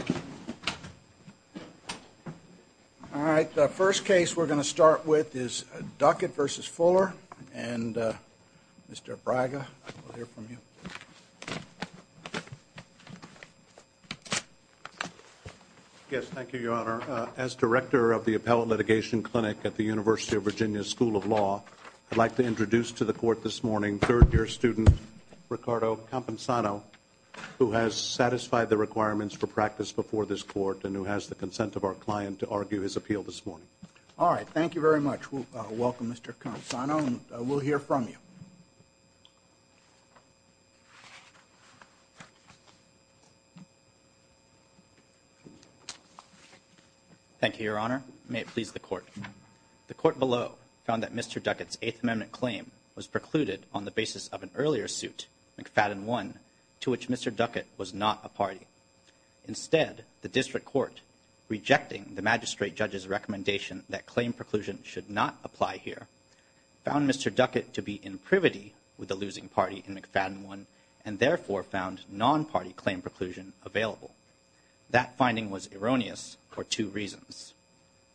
All right. The first case we're going to start with is Duckett v. Fuller and Mr. Abraga. We'll hear from you. Yes. Thank you, Your Honor. As Director of the Appellate Litigation Clinic at the University of Virginia School of Law, I'd like to introduce to the court this morning third year student Ricardo Campesano, who has satisfied the requirements for practice before this court and who has the consent of our client to argue his appeal this morning. All right. Thank you very much. Welcome, Mr. Campesano. We'll hear from you. Thank you, Your Honor. May it please the court. The court below found that Mr. Duckett's Eighth Amendment claim was precluded on the basis of an earlier suit, McFadden 1, to which Mr. Duckett was not a party. Instead, the district court, rejecting the magistrate judge's recommendation that claim preclusion should not apply here, found Mr. Duckett to be in privity with the losing party in McFadden 1 and therefore found non-party claim preclusion available. That finding was erroneous for two reasons.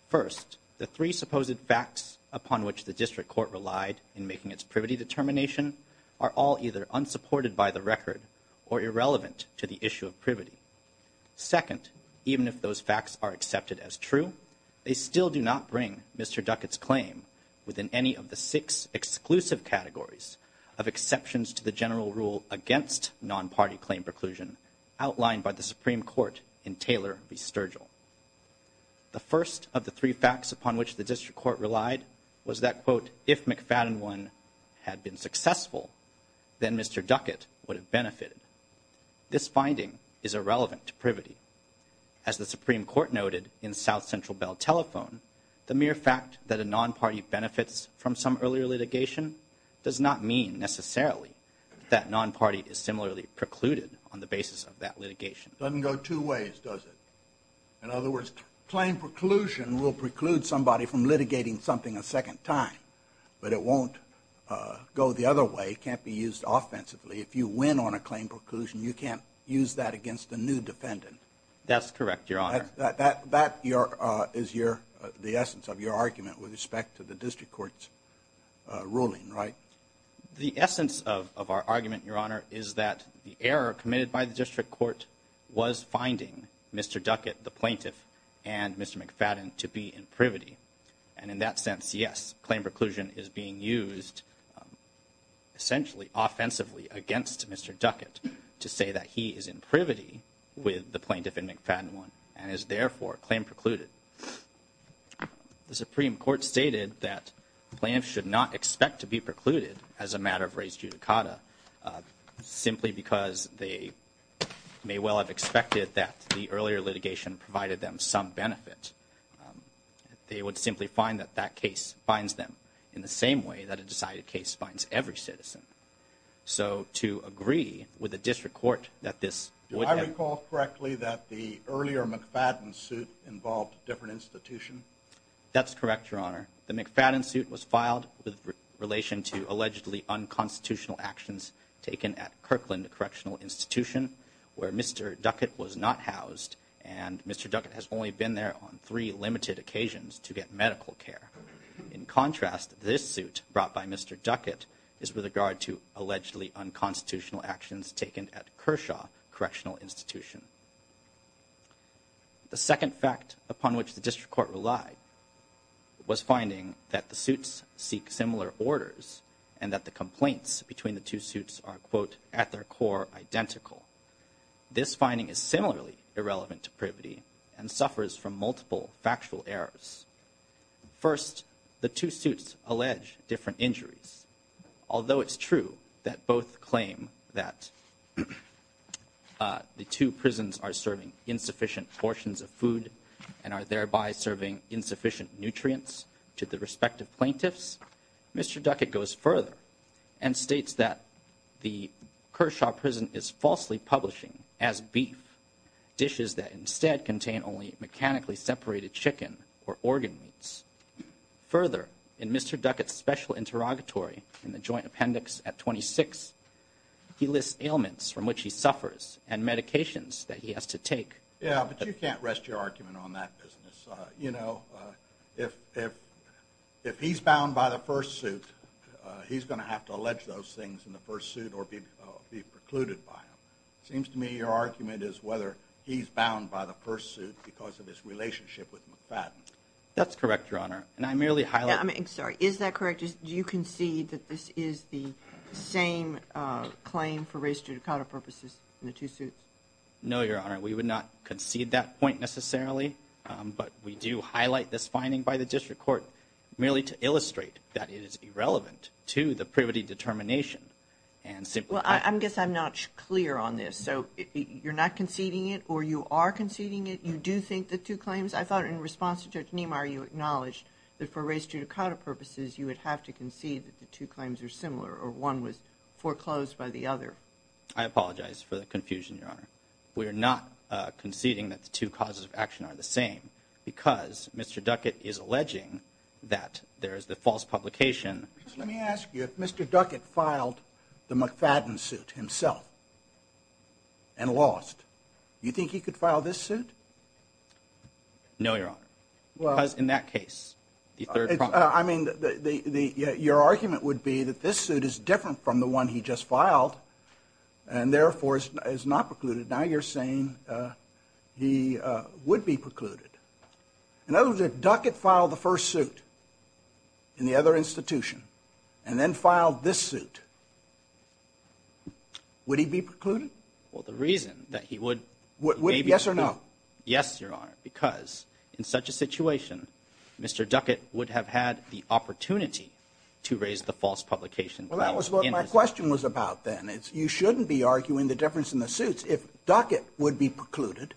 First, the three supposed facts upon which the district court relied in making its privity determination are all either unsupported by the record or irrelevant to the issue of privity. Second, even if those facts are accepted as true, they still do not bring Mr. Duckett's claim within any of the six exclusive categories of exceptions to the general rule against non-party claim preclusion outlined by the Supreme Court in Taylor v. Sturgill. The first of the three facts upon which the district court relied was that, quote, if McFadden 1 had been successful, then Mr. Duckett would have benefited. This finding is irrelevant to privity. As the Supreme Court noted in South Central Bell Telephone, the mere fact that a non-party benefits from some earlier litigation does not mean, necessarily, that non-party is similarly precluded on the basis of that litigation. It doesn't go two ways, does it? In other words, claim preclusion will preclude somebody from litigating something a second time, but it won't go the other way. It can't be used offensively. If you win on a claim preclusion, you can't use that against a new defendant. That's correct, Your Honor. That is the essence of your argument with respect to the district court's ruling, right? The essence of our argument, Your Honor, is that the error committed by the district court was finding Mr. Duckett, the plaintiff, and Mr. McFadden to be in privity. And in that sense, yes, claim preclusion is being used essentially offensively against Mr. Duckett to say that he is in privity with the plaintiff in McFadden 1 and is, therefore, claim precluded. The Supreme Court stated that plaintiffs should not expect to be precluded as a matter of precedent. They would expect it that the earlier litigation provided them some benefit. They would simply find that that case finds them in the same way that a decided case finds every citizen. So to agree with the district court that this would have... Do I recall correctly that the earlier McFadden suit involved a different institution? That's correct, Your Honor. The McFadden suit was filed with relation to allegedly unconstitutional actions taken at Kirkland Correctional Institution, where Mr. Duckett was not housed. And Mr. Duckett has only been there on three limited occasions to get medical care. In contrast, this suit brought by Mr. Duckett is with regard to allegedly unconstitutional actions taken at Kershaw Correctional Institution. The second fact upon which the district court relied was finding that the suits seek similar orders and that the complaints between the two suits are, quote, at their core identical. This finding is similarly irrelevant to Privety and suffers from multiple factual errors. First, the two suits allege different injuries. Although it's true that both claim that the two prisons are serving insufficient portions of food and are thereby serving insufficient nutrients to the patient, Mr. Duckett goes further and states that the Kershaw prison is falsely publishing as beef dishes that instead contain only mechanically separated chicken or organ meats. Further, in Mr. Duckett's special interrogatory in the joint appendix at 26, he lists ailments from which he suffers and medications that he has to take. Yeah, but you can't rest your argument on that business. You know, if he's bound by the first suit, he's going to have to allege those things in the first suit or be precluded by him. It seems to me your argument is whether he's bound by the first suit because of his relationship with McFadden. That's correct, Your Honor, and I merely highlight. I'm sorry, is that correct? Do you concede that this is the same claim for race judicata purposes in the two suits? No, Your Honor, we would not concede that point necessarily, but we do highlight this claim that it is irrelevant to the privity determination and simply. Well, I guess I'm not clear on this, so you're not conceding it or you are conceding it. You do think the two claims, I thought in response to Judge Niemeyer, you acknowledged that for race judicata purposes, you would have to concede that the two claims are similar or one was foreclosed by the other. I apologize for the confusion, Your Honor. We are not conceding that the two causes of action are the same because Mr. Duckett is alleging that there is the false publication. Let me ask you, if Mr. Duckett filed the McFadden suit himself and lost, you think he could file this suit? No, Your Honor, because in that case, the third. I mean, your argument would be that this suit is different from the one he just filed and therefore is not precluded. Now you're saying he would be precluded. In other words, if Duckett filed the first suit in the other institution and then filed this suit, would he be precluded? Well, the reason that he would. Yes or no? Yes, Your Honor, because in such a situation, Mr. Duckett would have had the opportunity to raise the false publication. Well, that was what my question was about then. You shouldn't be arguing the difference in the suits. If Duckett would be precluded,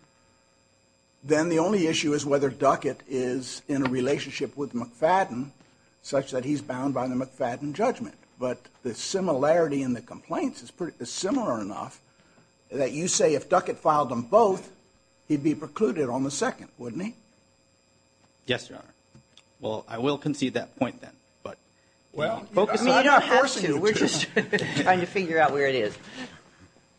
then the only issue is whether Duckett is in a relationship with McFadden such that he's bound by the McFadden judgment. But the similarity in the complaints is similar enough that you say if Duckett filed them both, he'd be precluded on the second, wouldn't he? Yes, Your Honor. Well, I will concede that point then, but well, focus on the first two. We're just trying to figure out where it is.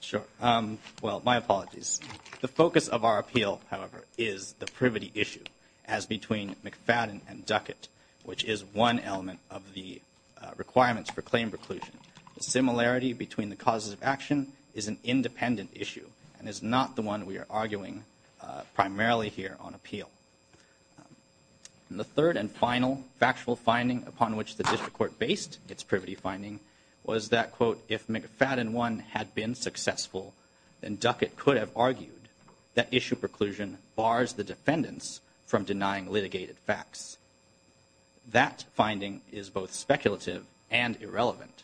Sure. Well, my apologies. The focus of our appeal, however, is the privity issue as between McFadden and Duckett, which is one element of the requirements for claim preclusion. The similarity between the causes of action is an independent issue and is not the one we are arguing primarily here on appeal. And the third and final factual finding upon which the district court based its privity finding was that, quote, if McFadden one had been successful, then Duckett could have argued that issue preclusion bars the defendants from denying litigated facts. That finding is both speculative and irrelevant.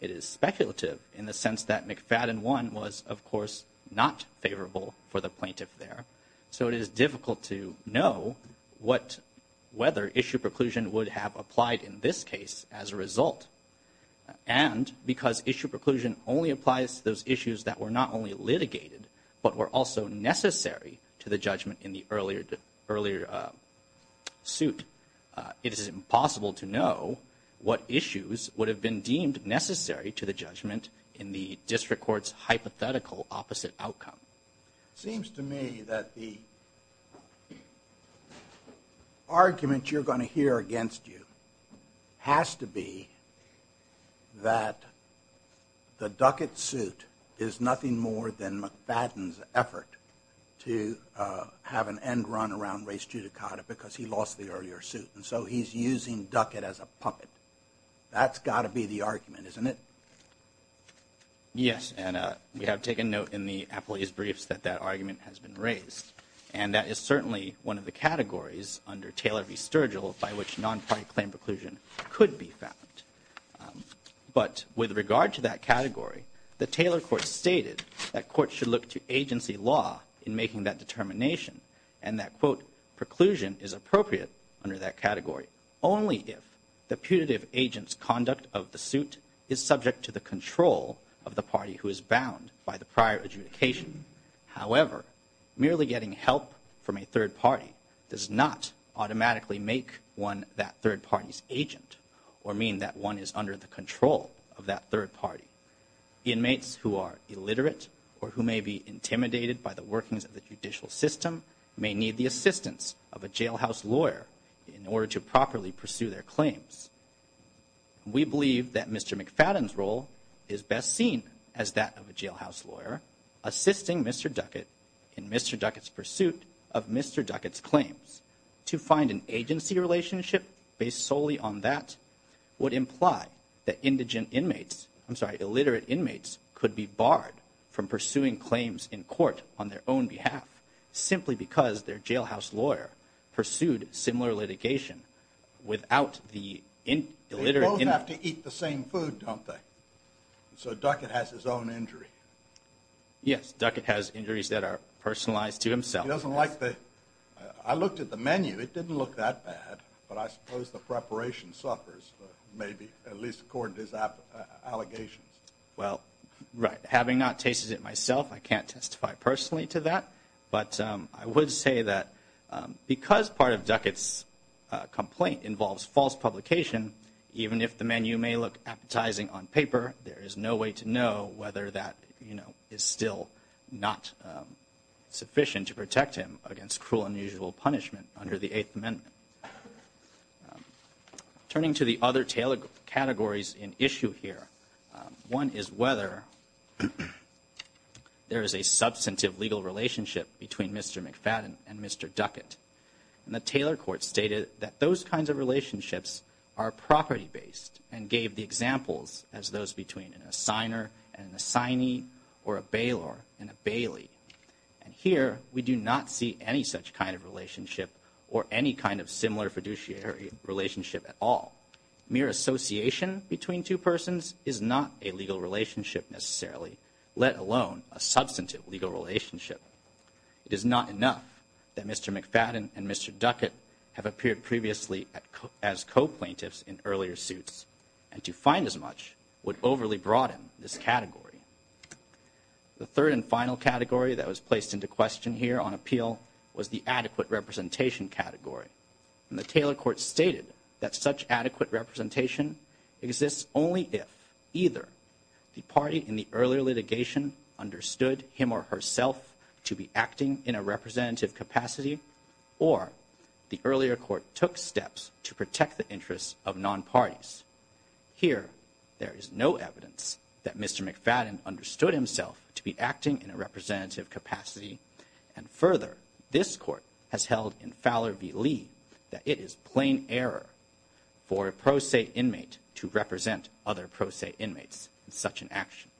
It is speculative in the sense that McFadden one was, of course, not favorable for the plaintiff there. So it is difficult to know what whether issue preclusion would have applied in this case as a result. And because issue preclusion only applies to those issues that were not only litigated, but were also necessary to the judgment in the earlier earlier suit, it is impossible to know what issues would have been deemed necessary to the judgment in the district court's hypothetical opposite outcome. Seems to me that the argument you're going to hear against you has to do with has to be that the Duckett suit is nothing more than McFadden's effort to have an end run around race judicata because he lost the earlier suit. And so he's using Duckett as a puppet. That's got to be the argument, isn't it? Yes. And we have taken note in the appellee's briefs that that argument has been raised. And that is certainly one of the categories under Taylor v. Sturgill by which non-party claim preclusion could be found. But with regard to that category, the Taylor court stated that courts should look to agency law in making that determination and that, quote, preclusion is appropriate under that category only if the putative agent's conduct of the suit is subject to the control of the party who is bound by the prior adjudication. However, merely getting help from a third party's agent or mean that one is under the control of that third party inmates who are illiterate or who may be intimidated by the workings of the judicial system may need the assistance of a jailhouse lawyer in order to properly pursue their claims. We believe that Mr. McFadden's role is best seen as that of a jailhouse lawyer assisting Mr. Duckett in Mr. Duckett's pursuit of Mr. Duckett's claims. To find an agency relationship based solely on that would imply that indigent inmates, I'm sorry, illiterate inmates could be barred from pursuing claims in court on their own behalf simply because their jailhouse lawyer pursued similar litigation without the illiterate. They both have to eat the same food, don't they? So Duckett has his own injury. Yes, Duckett has injuries that are personalized to himself. I looked at the menu. It didn't look that bad, but I suppose the preparation suffers, maybe, at least according to his allegations. Well, right. Having not tasted it myself, I can't testify personally to that. But I would say that because part of Duckett's complaint involves false publication, even if the menu may look appetizing on paper, there is no way to know whether that is still not sufficient to protect him against cruel, unusual punishment under the Eighth Amendment. Turning to the other Taylor categories in issue here, one is whether there is a substantive legal relationship between Mr. McFadden and Mr. Duckett. And the Taylor court stated that those kinds of relationships are property based and gave the examples as those between an assigner and an assignee or a bailor and a bailee. And here we do not see any such kind of relationship or any kind of similar fiduciary relationship at all. Mere association between two persons is not a legal relationship necessarily, let alone a substantive legal relationship. It is not enough that Mr. McFadden and Mr. Duckett have appeared previously as co-plaintiffs in earlier suits and to find as much would overly broaden this category. The third and final category that was placed into question here on appeal was the adequate representation category. And the Taylor court stated that such adequate representation exists only if either the party in the earlier litigation understood him or herself to be acting in a representative capacity or the earlier court took steps to protect the interests of non-parties. Here, there is no evidence that Mr. McFadden understood himself to be acting in a representative capacity. And further, this court has held in Fowler v. Lee that it is plain error for a pro se inmate to represent other pro se inmates in such an action.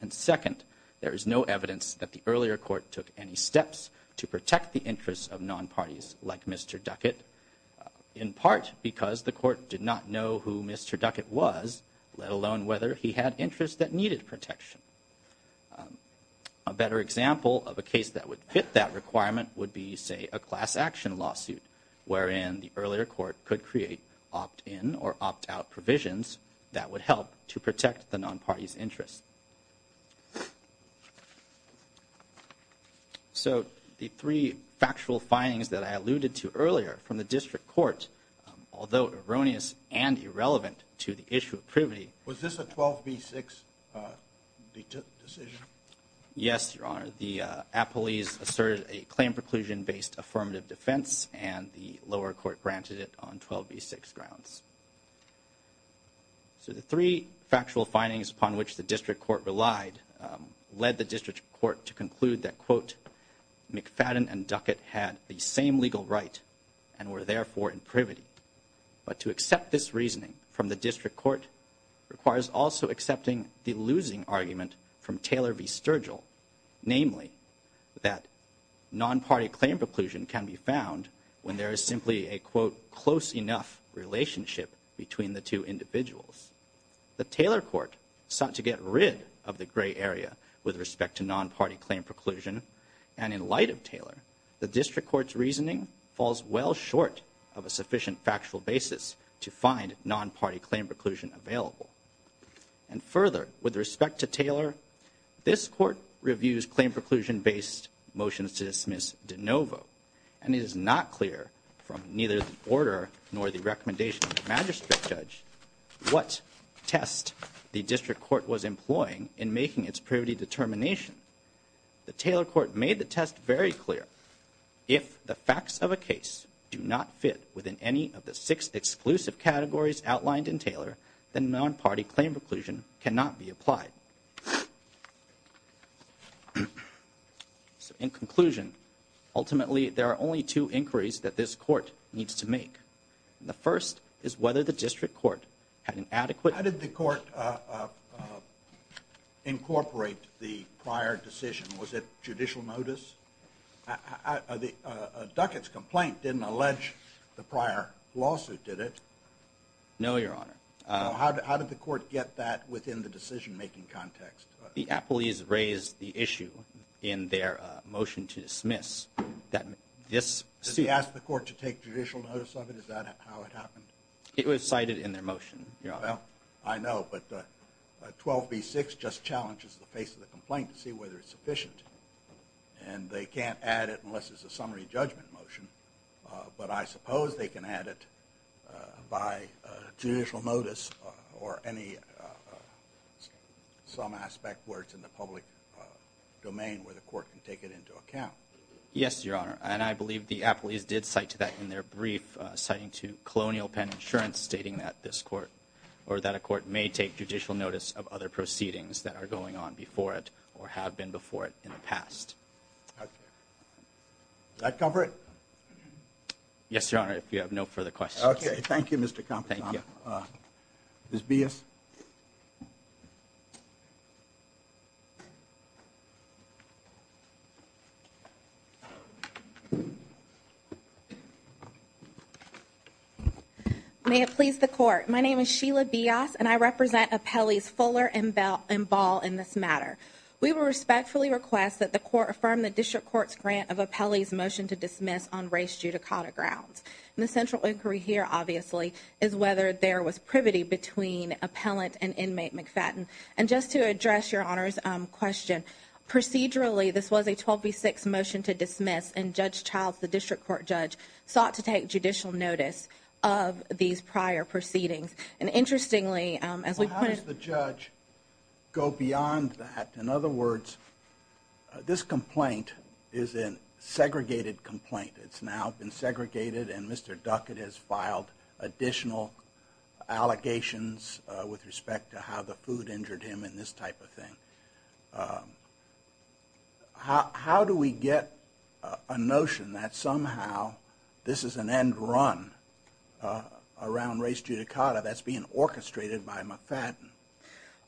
And second, there is no evidence that the earlier court took any steps to protect the non-party's interests, not because the court did not know who Mr. Duckett was, let alone whether he had interests that needed protection. A better example of a case that would fit that requirement would be, say, a class action lawsuit wherein the earlier court could create opt-in or opt-out provisions that would help to protect the non-party's interests. So the three factual findings that I alluded to earlier from the district court, although erroneous and irrelevant to the issue of privity... Was this a 12B6 decision? Yes, Your Honor. The appellees asserted a claim preclusion-based affirmative defense and the lower court granted it on 12B6 grounds. So the three factual findings upon which the district court relied led the district court to conclude that McFadden and Duckett had the same legal right and were therefore in privity. But to accept this reasoning from the district court requires also accepting the losing argument from Taylor v. Sturgill, namely that non-party claim preclusion can be found when there is simply a quote, close enough relationship between the two individuals. The Taylor court sought to get rid of the gray area with respect to non-party claim preclusion, and in light of Taylor, the district court's reasoning falls well short of a sufficient factual basis to find non-party claim preclusion available. And further, with respect to Taylor, this court reviews claim preclusion-based motions to dismiss de novo, and it is not clear from neither the order nor the recommendation of the magistrate judge what test the district court was employing in making its privity determination. The Taylor court made the test very clear. If the facts of a case do not fit within any of the six exclusive categories outlined in Taylor, then non-party claim preclusion cannot be applied. In conclusion, ultimately there are only two inquiries that this court needs to make. The first is whether the district court had an adequate... How did the court incorporate the prior decision? Was it judicial notice? Duckett's complaint didn't allege the prior decision. It was cited in their motion. Well, I know, but 12b-6 just challenges the face of the complaint to see whether it's sufficient, and they can't add it unless it's a summary judgment motion. But I suppose they can add it by judicial notice or any other some aspect where it's in the public domain where the court can take it into account. Yes, Your Honor, and I believe the appellees did cite to that in their brief citing to colonial pen insurance stating that this court or that a court may take judicial notice of other proceedings that are going on before it or have been before it in the past. Does that cover it? Yes, Your Honor, if you have no further questions. Okay, thank you, Mr. Compton. Ms. Bias. May it please the court. My name is Sheila Bias, and I represent appellees Fuller and Ball in this matter. We will respectfully request that the court affirm the district court's decision of appellees' motion to dismiss on race judicata grounds. And the central inquiry here, obviously, is whether there was privity between appellant and inmate McFadden. And just to address Your Honor's question, procedurally, this was a 12b-6 motion to dismiss, and Judge Childs, the district court judge, sought to take judicial notice of these prior proceedings. And interestingly, as we put it... go beyond that. In other words, this complaint is a segregated complaint. It's now been segregated, and Mr. Duckett has filed additional allegations with respect to how the food injured him and this type of thing. How do we get a notion that somehow this is an end run around race judicata that's being orchestrated by McFadden?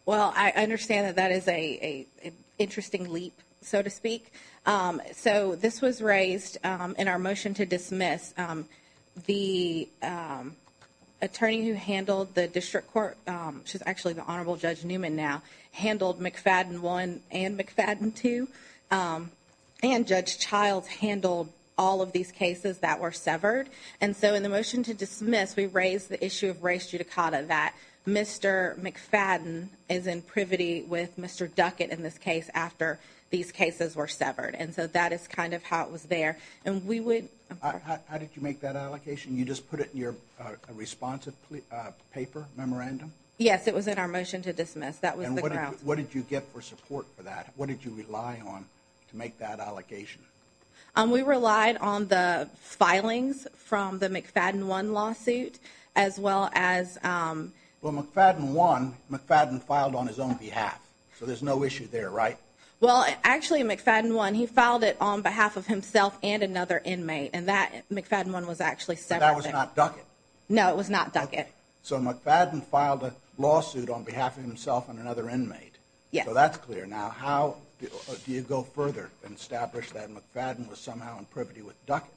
Well, I understand that that is an interesting leap, so to speak. So this was raised in our motion to dismiss. The attorney who handled the district court, which is actually the Honorable Judge Newman now, handled McFadden 1 and McFadden 2. And Judge Childs handled all of these cases that were severed. And so in the motion to dismiss, we raised the issue of race judicata that Mr. McFadden is in privity with Mr. Duckett in this case after these cases were severed. And so that is kind of how it was there. How did you make that allocation? You just put it in your responsive paper memorandum? Yes, it was in our motion to dismiss. That was the grounds. And what did you get for support for that? What did you rely on to make that allocation? We relied on the filings from the McFadden 1 lawsuit as well as... Well, McFadden 1, McFadden filed on his own behalf. So there's no issue there, right? Well, actually McFadden 1, he filed it on behalf of himself and another inmate. And McFadden 1 was actually severed. But that was not Duckett? No, it was not Duckett. So McFadden filed a lawsuit on behalf of himself and another inmate. So that's clear. Now, how do you go further and establish that McFadden was somehow in privity with Duckett?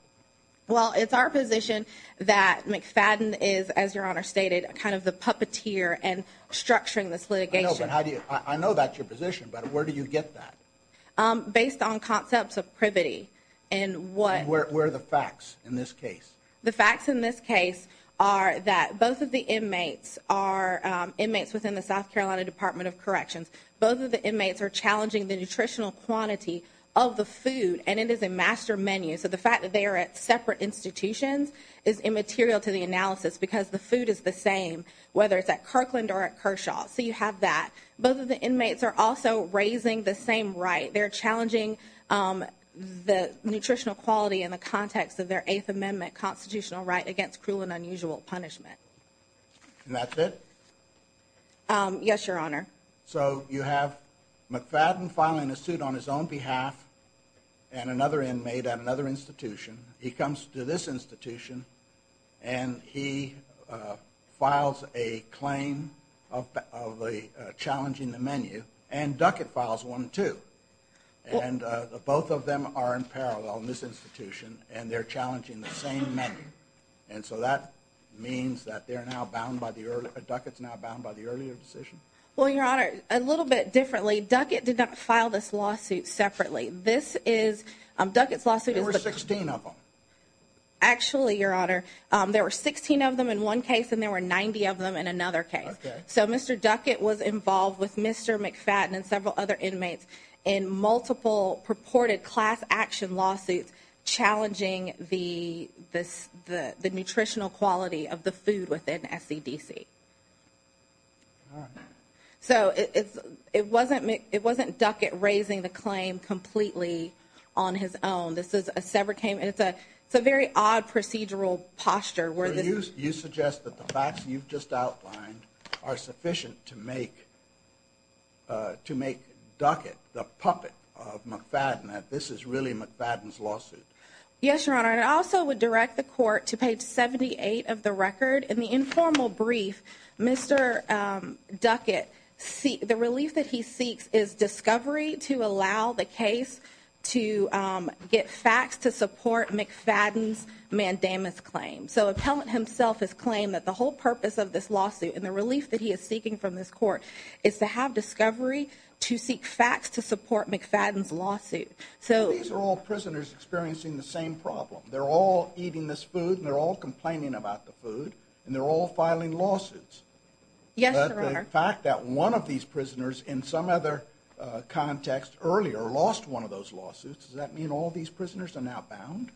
Well, it's our position that McFadden is, as Your Honor stated, kind of the puppeteer in structuring this litigation. I know that's your position, but where do you get that? Based on concepts of privity and what... And where are the facts in this case? The facts in this case are that both of the inmates are inmates within the South Carolina Department of Corrections. Both of the inmates are challenging the nutritional quantity of the food, and it is a master menu. So the fact that they are at separate institutions is immaterial to the analysis because the food is the same, whether it's at Kirkland or at Kershaw. So you have that. Both of the inmates are also raising the same right. They're challenging the nutritional quality in the context of their Eighth Amendment constitutional right against cruel and unusual punishment. And that's it? Yes, Your Honor. So you have McFadden filing a suit on his own behalf and another inmate at another institution. He comes to this institution and he files a claim of challenging the menu, and Duckett files one too. Both of them are in parallel in this institution, and they're challenging the same menu. And so that means that they're now bound by the earlier... Duckett's now bound by the earlier decision? Well, Your Honor, a little bit differently, Duckett did not file this lawsuit separately. This is... Duckett's lawsuit is... There were 16 of them? Actually, Your Honor, there were 16 of them in one case and there were 90 of them in another case. So Mr. Duckett was involved with Mr. McFadden and several other inmates in multiple purported class action lawsuits challenging the nutritional quality of the food within SCDC. All right. So it wasn't Duckett raising the claim completely on his own. It's a very odd procedural posture. You suggest that the facts you've just outlined are sufficient to make Duckett the puppet of McFadden, that this is really McFadden's lawsuit? Yes, Your Honor. And I also would direct the court to page 78 of the record. In the informal brief, Mr. Duckett... The relief that he seeks is discovery to allow the case to get facts to support McFadden's mandamus claim. So appellant himself has claimed that the whole purpose of this lawsuit and the relief that he is seeking from this court is to have discovery to seek facts to support McFadden's lawsuit. So... So these are all prisoners experiencing the same problem. They're all eating this food and they're all complaining about the food and they're all filing lawsuits. Yes, Your Honor. But the fact that one of these prisoners in some other context earlier lost one of those lawsuits, does that mean all these prisoners are now bound?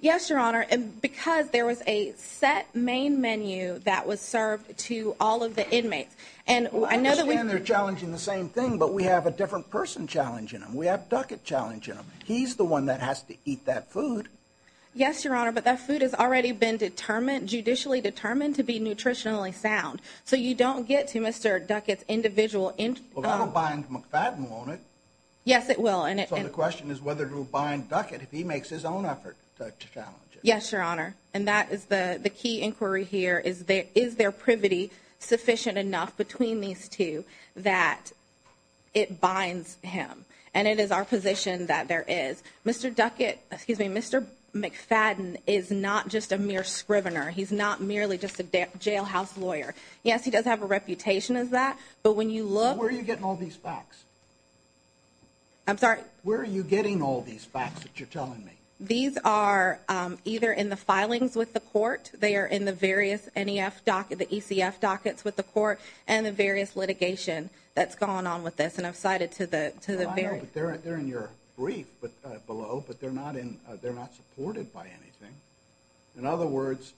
Yes, Your Honor. And because there was a set main menu that was served to all of the inmates. And I understand they're challenging the same thing, but we have a different person challenging them. We have Duckett challenging them. He's the one that has to eat that food. Yes, Your Honor. But that food has already been determined, judicially determined to be nutritionally sound. So you don't get to Mr. Duckett's individual... Well, that'll bind McFadden, won't it? Yes, it will. So the question is whether it will bind Duckett if he makes his own effort to challenge it. Yes, Your Honor. And that is the key inquiry here. Is there privity sufficient enough between these two that it binds him? And it is our position that there is. Mr. Duckett, excuse me, Mr. McFadden is not just a mere scrivener. He's not merely just a jailhouse lawyer. Yes, he does have a reputation as that, but when you look... Where are you getting all these facts? These are either in the filings with the court, they are in the various ECF dockets with the court, and the various litigation that's gone on with this. And I've cited to the... I know, but they're in your brief below, but they're not supported by anything. In other words,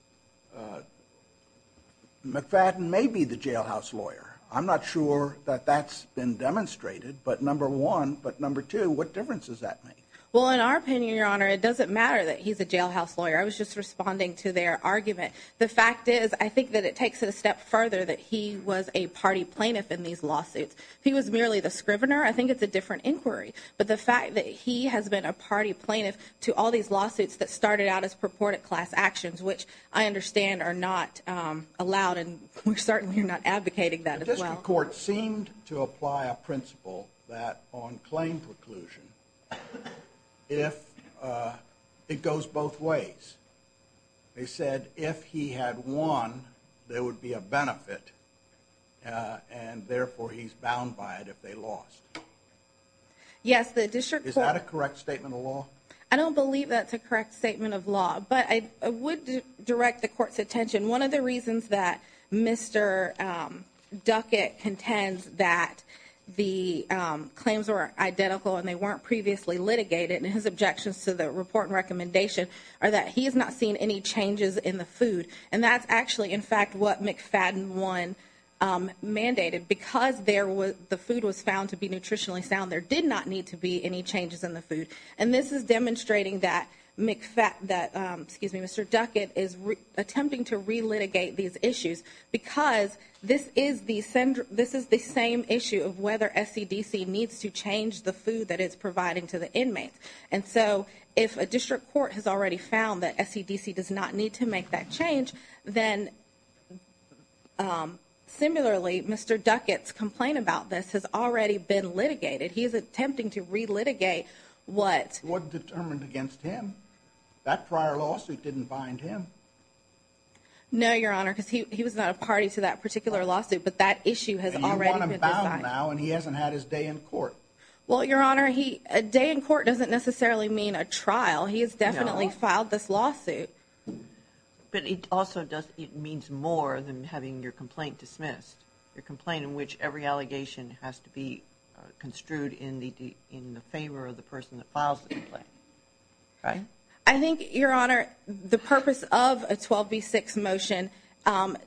McFadden may be the jailhouse lawyer. I'm not sure that that's been demonstrated, but number one, but number two, what difference does that make? Well, in our opinion, Your Honor, it doesn't matter that he's a jailhouse lawyer. I was just responding to their argument. The fact is, I think that it takes it a step further that he was a party plaintiff in these lawsuits. If he was merely the scrivener, I think it's a different inquiry. But the fact that he has been a party plaintiff to all these lawsuits that started out as purported class actions, which I understand are not allowed, and we certainly are not advocating that as well. The district court seemed to apply a principle that on claim preclusion, if it goes both ways. They said if he had won, there would be a benefit, and therefore he's bound by it if they lost. Yes, the district court... Is that a correct statement of law? I don't believe that's a correct statement of law, but I would direct the court's attention. One of the reasons that Mr. Duckett contends that the claims were identical and they weren't previously litigated, and his objections to the report and recommendation, are that he has not seen any changes in the food. And that's actually, in fact, what McFadden 1 mandated. Because the food was found to be nutritionally sound, there did not need to be any changes in the food. And this is demonstrating that Mr. Duckett is attempting to re-litigate these issues. Because this is the same issue of whether SCDC needs to change the food that it's providing to the inmates. And so if a district court has already found that SCDC does not need to make that change, then similarly, Mr. Duckett's complaint about this has already been litigated. He's attempting to re-litigate what... It wasn't determined against him. That prior lawsuit didn't bind him. No, Your Honor, because he was not a party to that particular lawsuit, but that issue has already been decided. You want him bound now and he hasn't had his day in court. Well, Your Honor, a day in court doesn't necessarily mean a trial. He has definitely filed this lawsuit. But it also means more than having your complaint dismissed. Your complaint in which every allegation has to be construed in the favor of the person that files the complaint. I think, Your Honor, the purpose of a 12B6 motion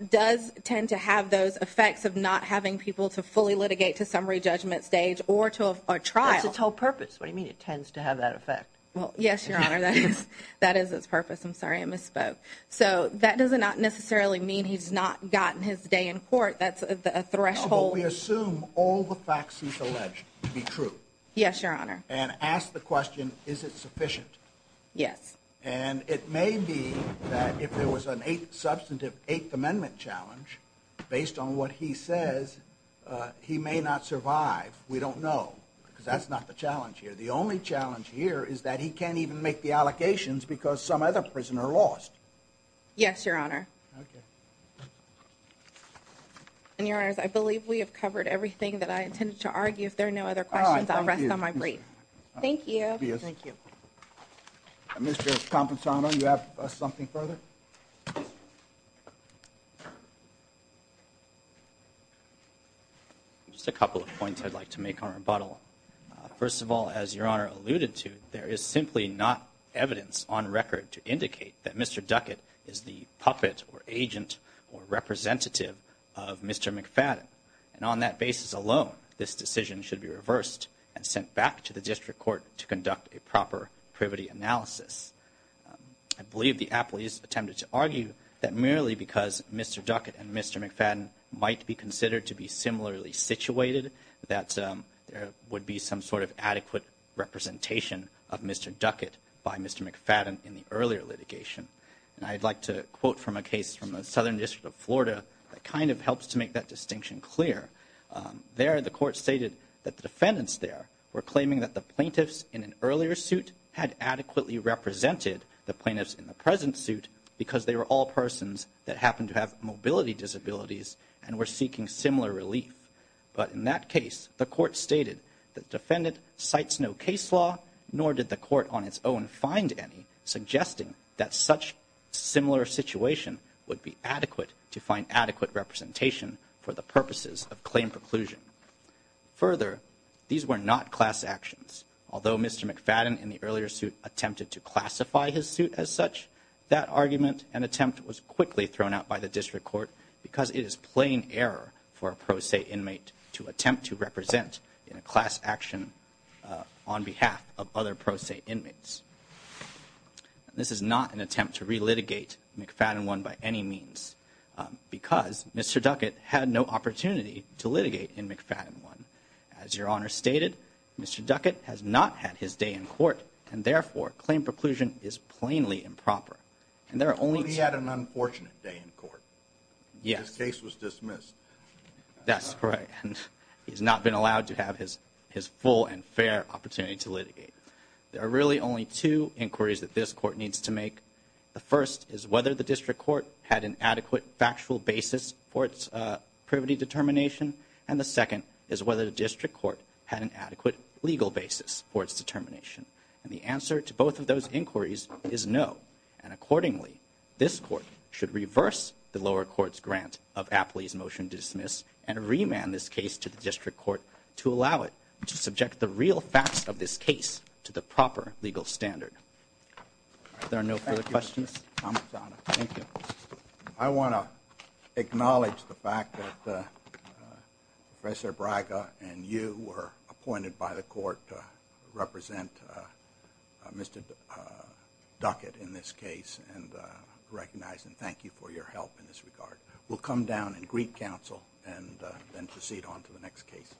does tend to have those effects of not having people to fully litigate to summary judgment stage or trial. That's its whole purpose. What do you mean it tends to have that effect? Well, yes, Your Honor, that is its purpose. I'm sorry, I misspoke. So that does not necessarily mean he's not gotten his day in court. That's a threshold. But we assume all the facts he's alleged to be true. Yes, Your Honor. And ask the question, is it sufficient? Yes. And it may be that if there was a substantive Eighth Amendment challenge based on what he says, he may not survive. We don't know because that's not the challenge here. The only challenge here is that he can't even make the allocations because some other prisoner lost. Yes, Your Honor. And, Your Honors, I believe we have covered everything that I intended to argue. If there are no other questions, I'll rest on my brief. Thank you. Thank you. Mr. Just a couple of points I'd like to make on rebuttal. First of all, as Your Honor alluded to, there is simply not evidence on record to indicate that Mr. Duckett is the puppet or agent or representative of Mr. McFadden. And on that basis alone, this decision should be reversed and sent back to the district court to conduct a proper privity analysis. I believe the appellees attempted to argue that merely because Mr. Duckett and Mr. McFadden might be considered to be similarly situated, that there would be some sort of adequate representation of Mr. Duckett by Mr. McFadden in the earlier litigation. And I'd like to quote from a case from the Southern District of Florida that kind of helps to make that distinction clear. There, the court stated that the plaintiffs in the present suit because they were all persons that happened to have mobility disabilities and were seeking similar relief. But in that case, the court stated that the defendant cites no case law, nor did the court on its own find any, suggesting that such similar situation would be adequate to find adequate representation for the purposes of claim preclusion. Further, these were not class actions. Although Mr. McFadden in the earlier suit attempted to classify his suit as such, that argument and attempt was quickly thrown out by the district court because it is plain error for a pro se inmate to attempt to represent in a class action on behalf of other pro se inmates. This is not an attempt to relitigate McFadden 1 by any means because Mr. Duckett had no opportunity to litigate in McFadden 1. As your Honor stated, Mr. Duckett has not had his day in court and therefore claim preclusion is plainly improper. And there are only two... He only had an unfortunate day in court. Yes. His case was dismissed. That's right. And he's not been allowed to have his full and fair opportunity to litigate. There are really only two inquiries that this court needs to make. The first is whether the district court had an adequate factual basis for its privity determination. And the second is whether the district court had an adequate legal basis for its determination. And the answer to both of those inquiries is no. And accordingly, this court should reverse the lower court's grant of Apley's motion to dismiss and remand this case to the district court to allow it to subject the real facts of this case to the proper legal standard. If there are no further questions... I want to acknowledge the fact that Professor Braga and you were appointed by the court to represent Mr. Duckett in this case and recognize and thank you for your help in this regard. We'll come down and greet counsel and then proceed on to the next case. Thank you.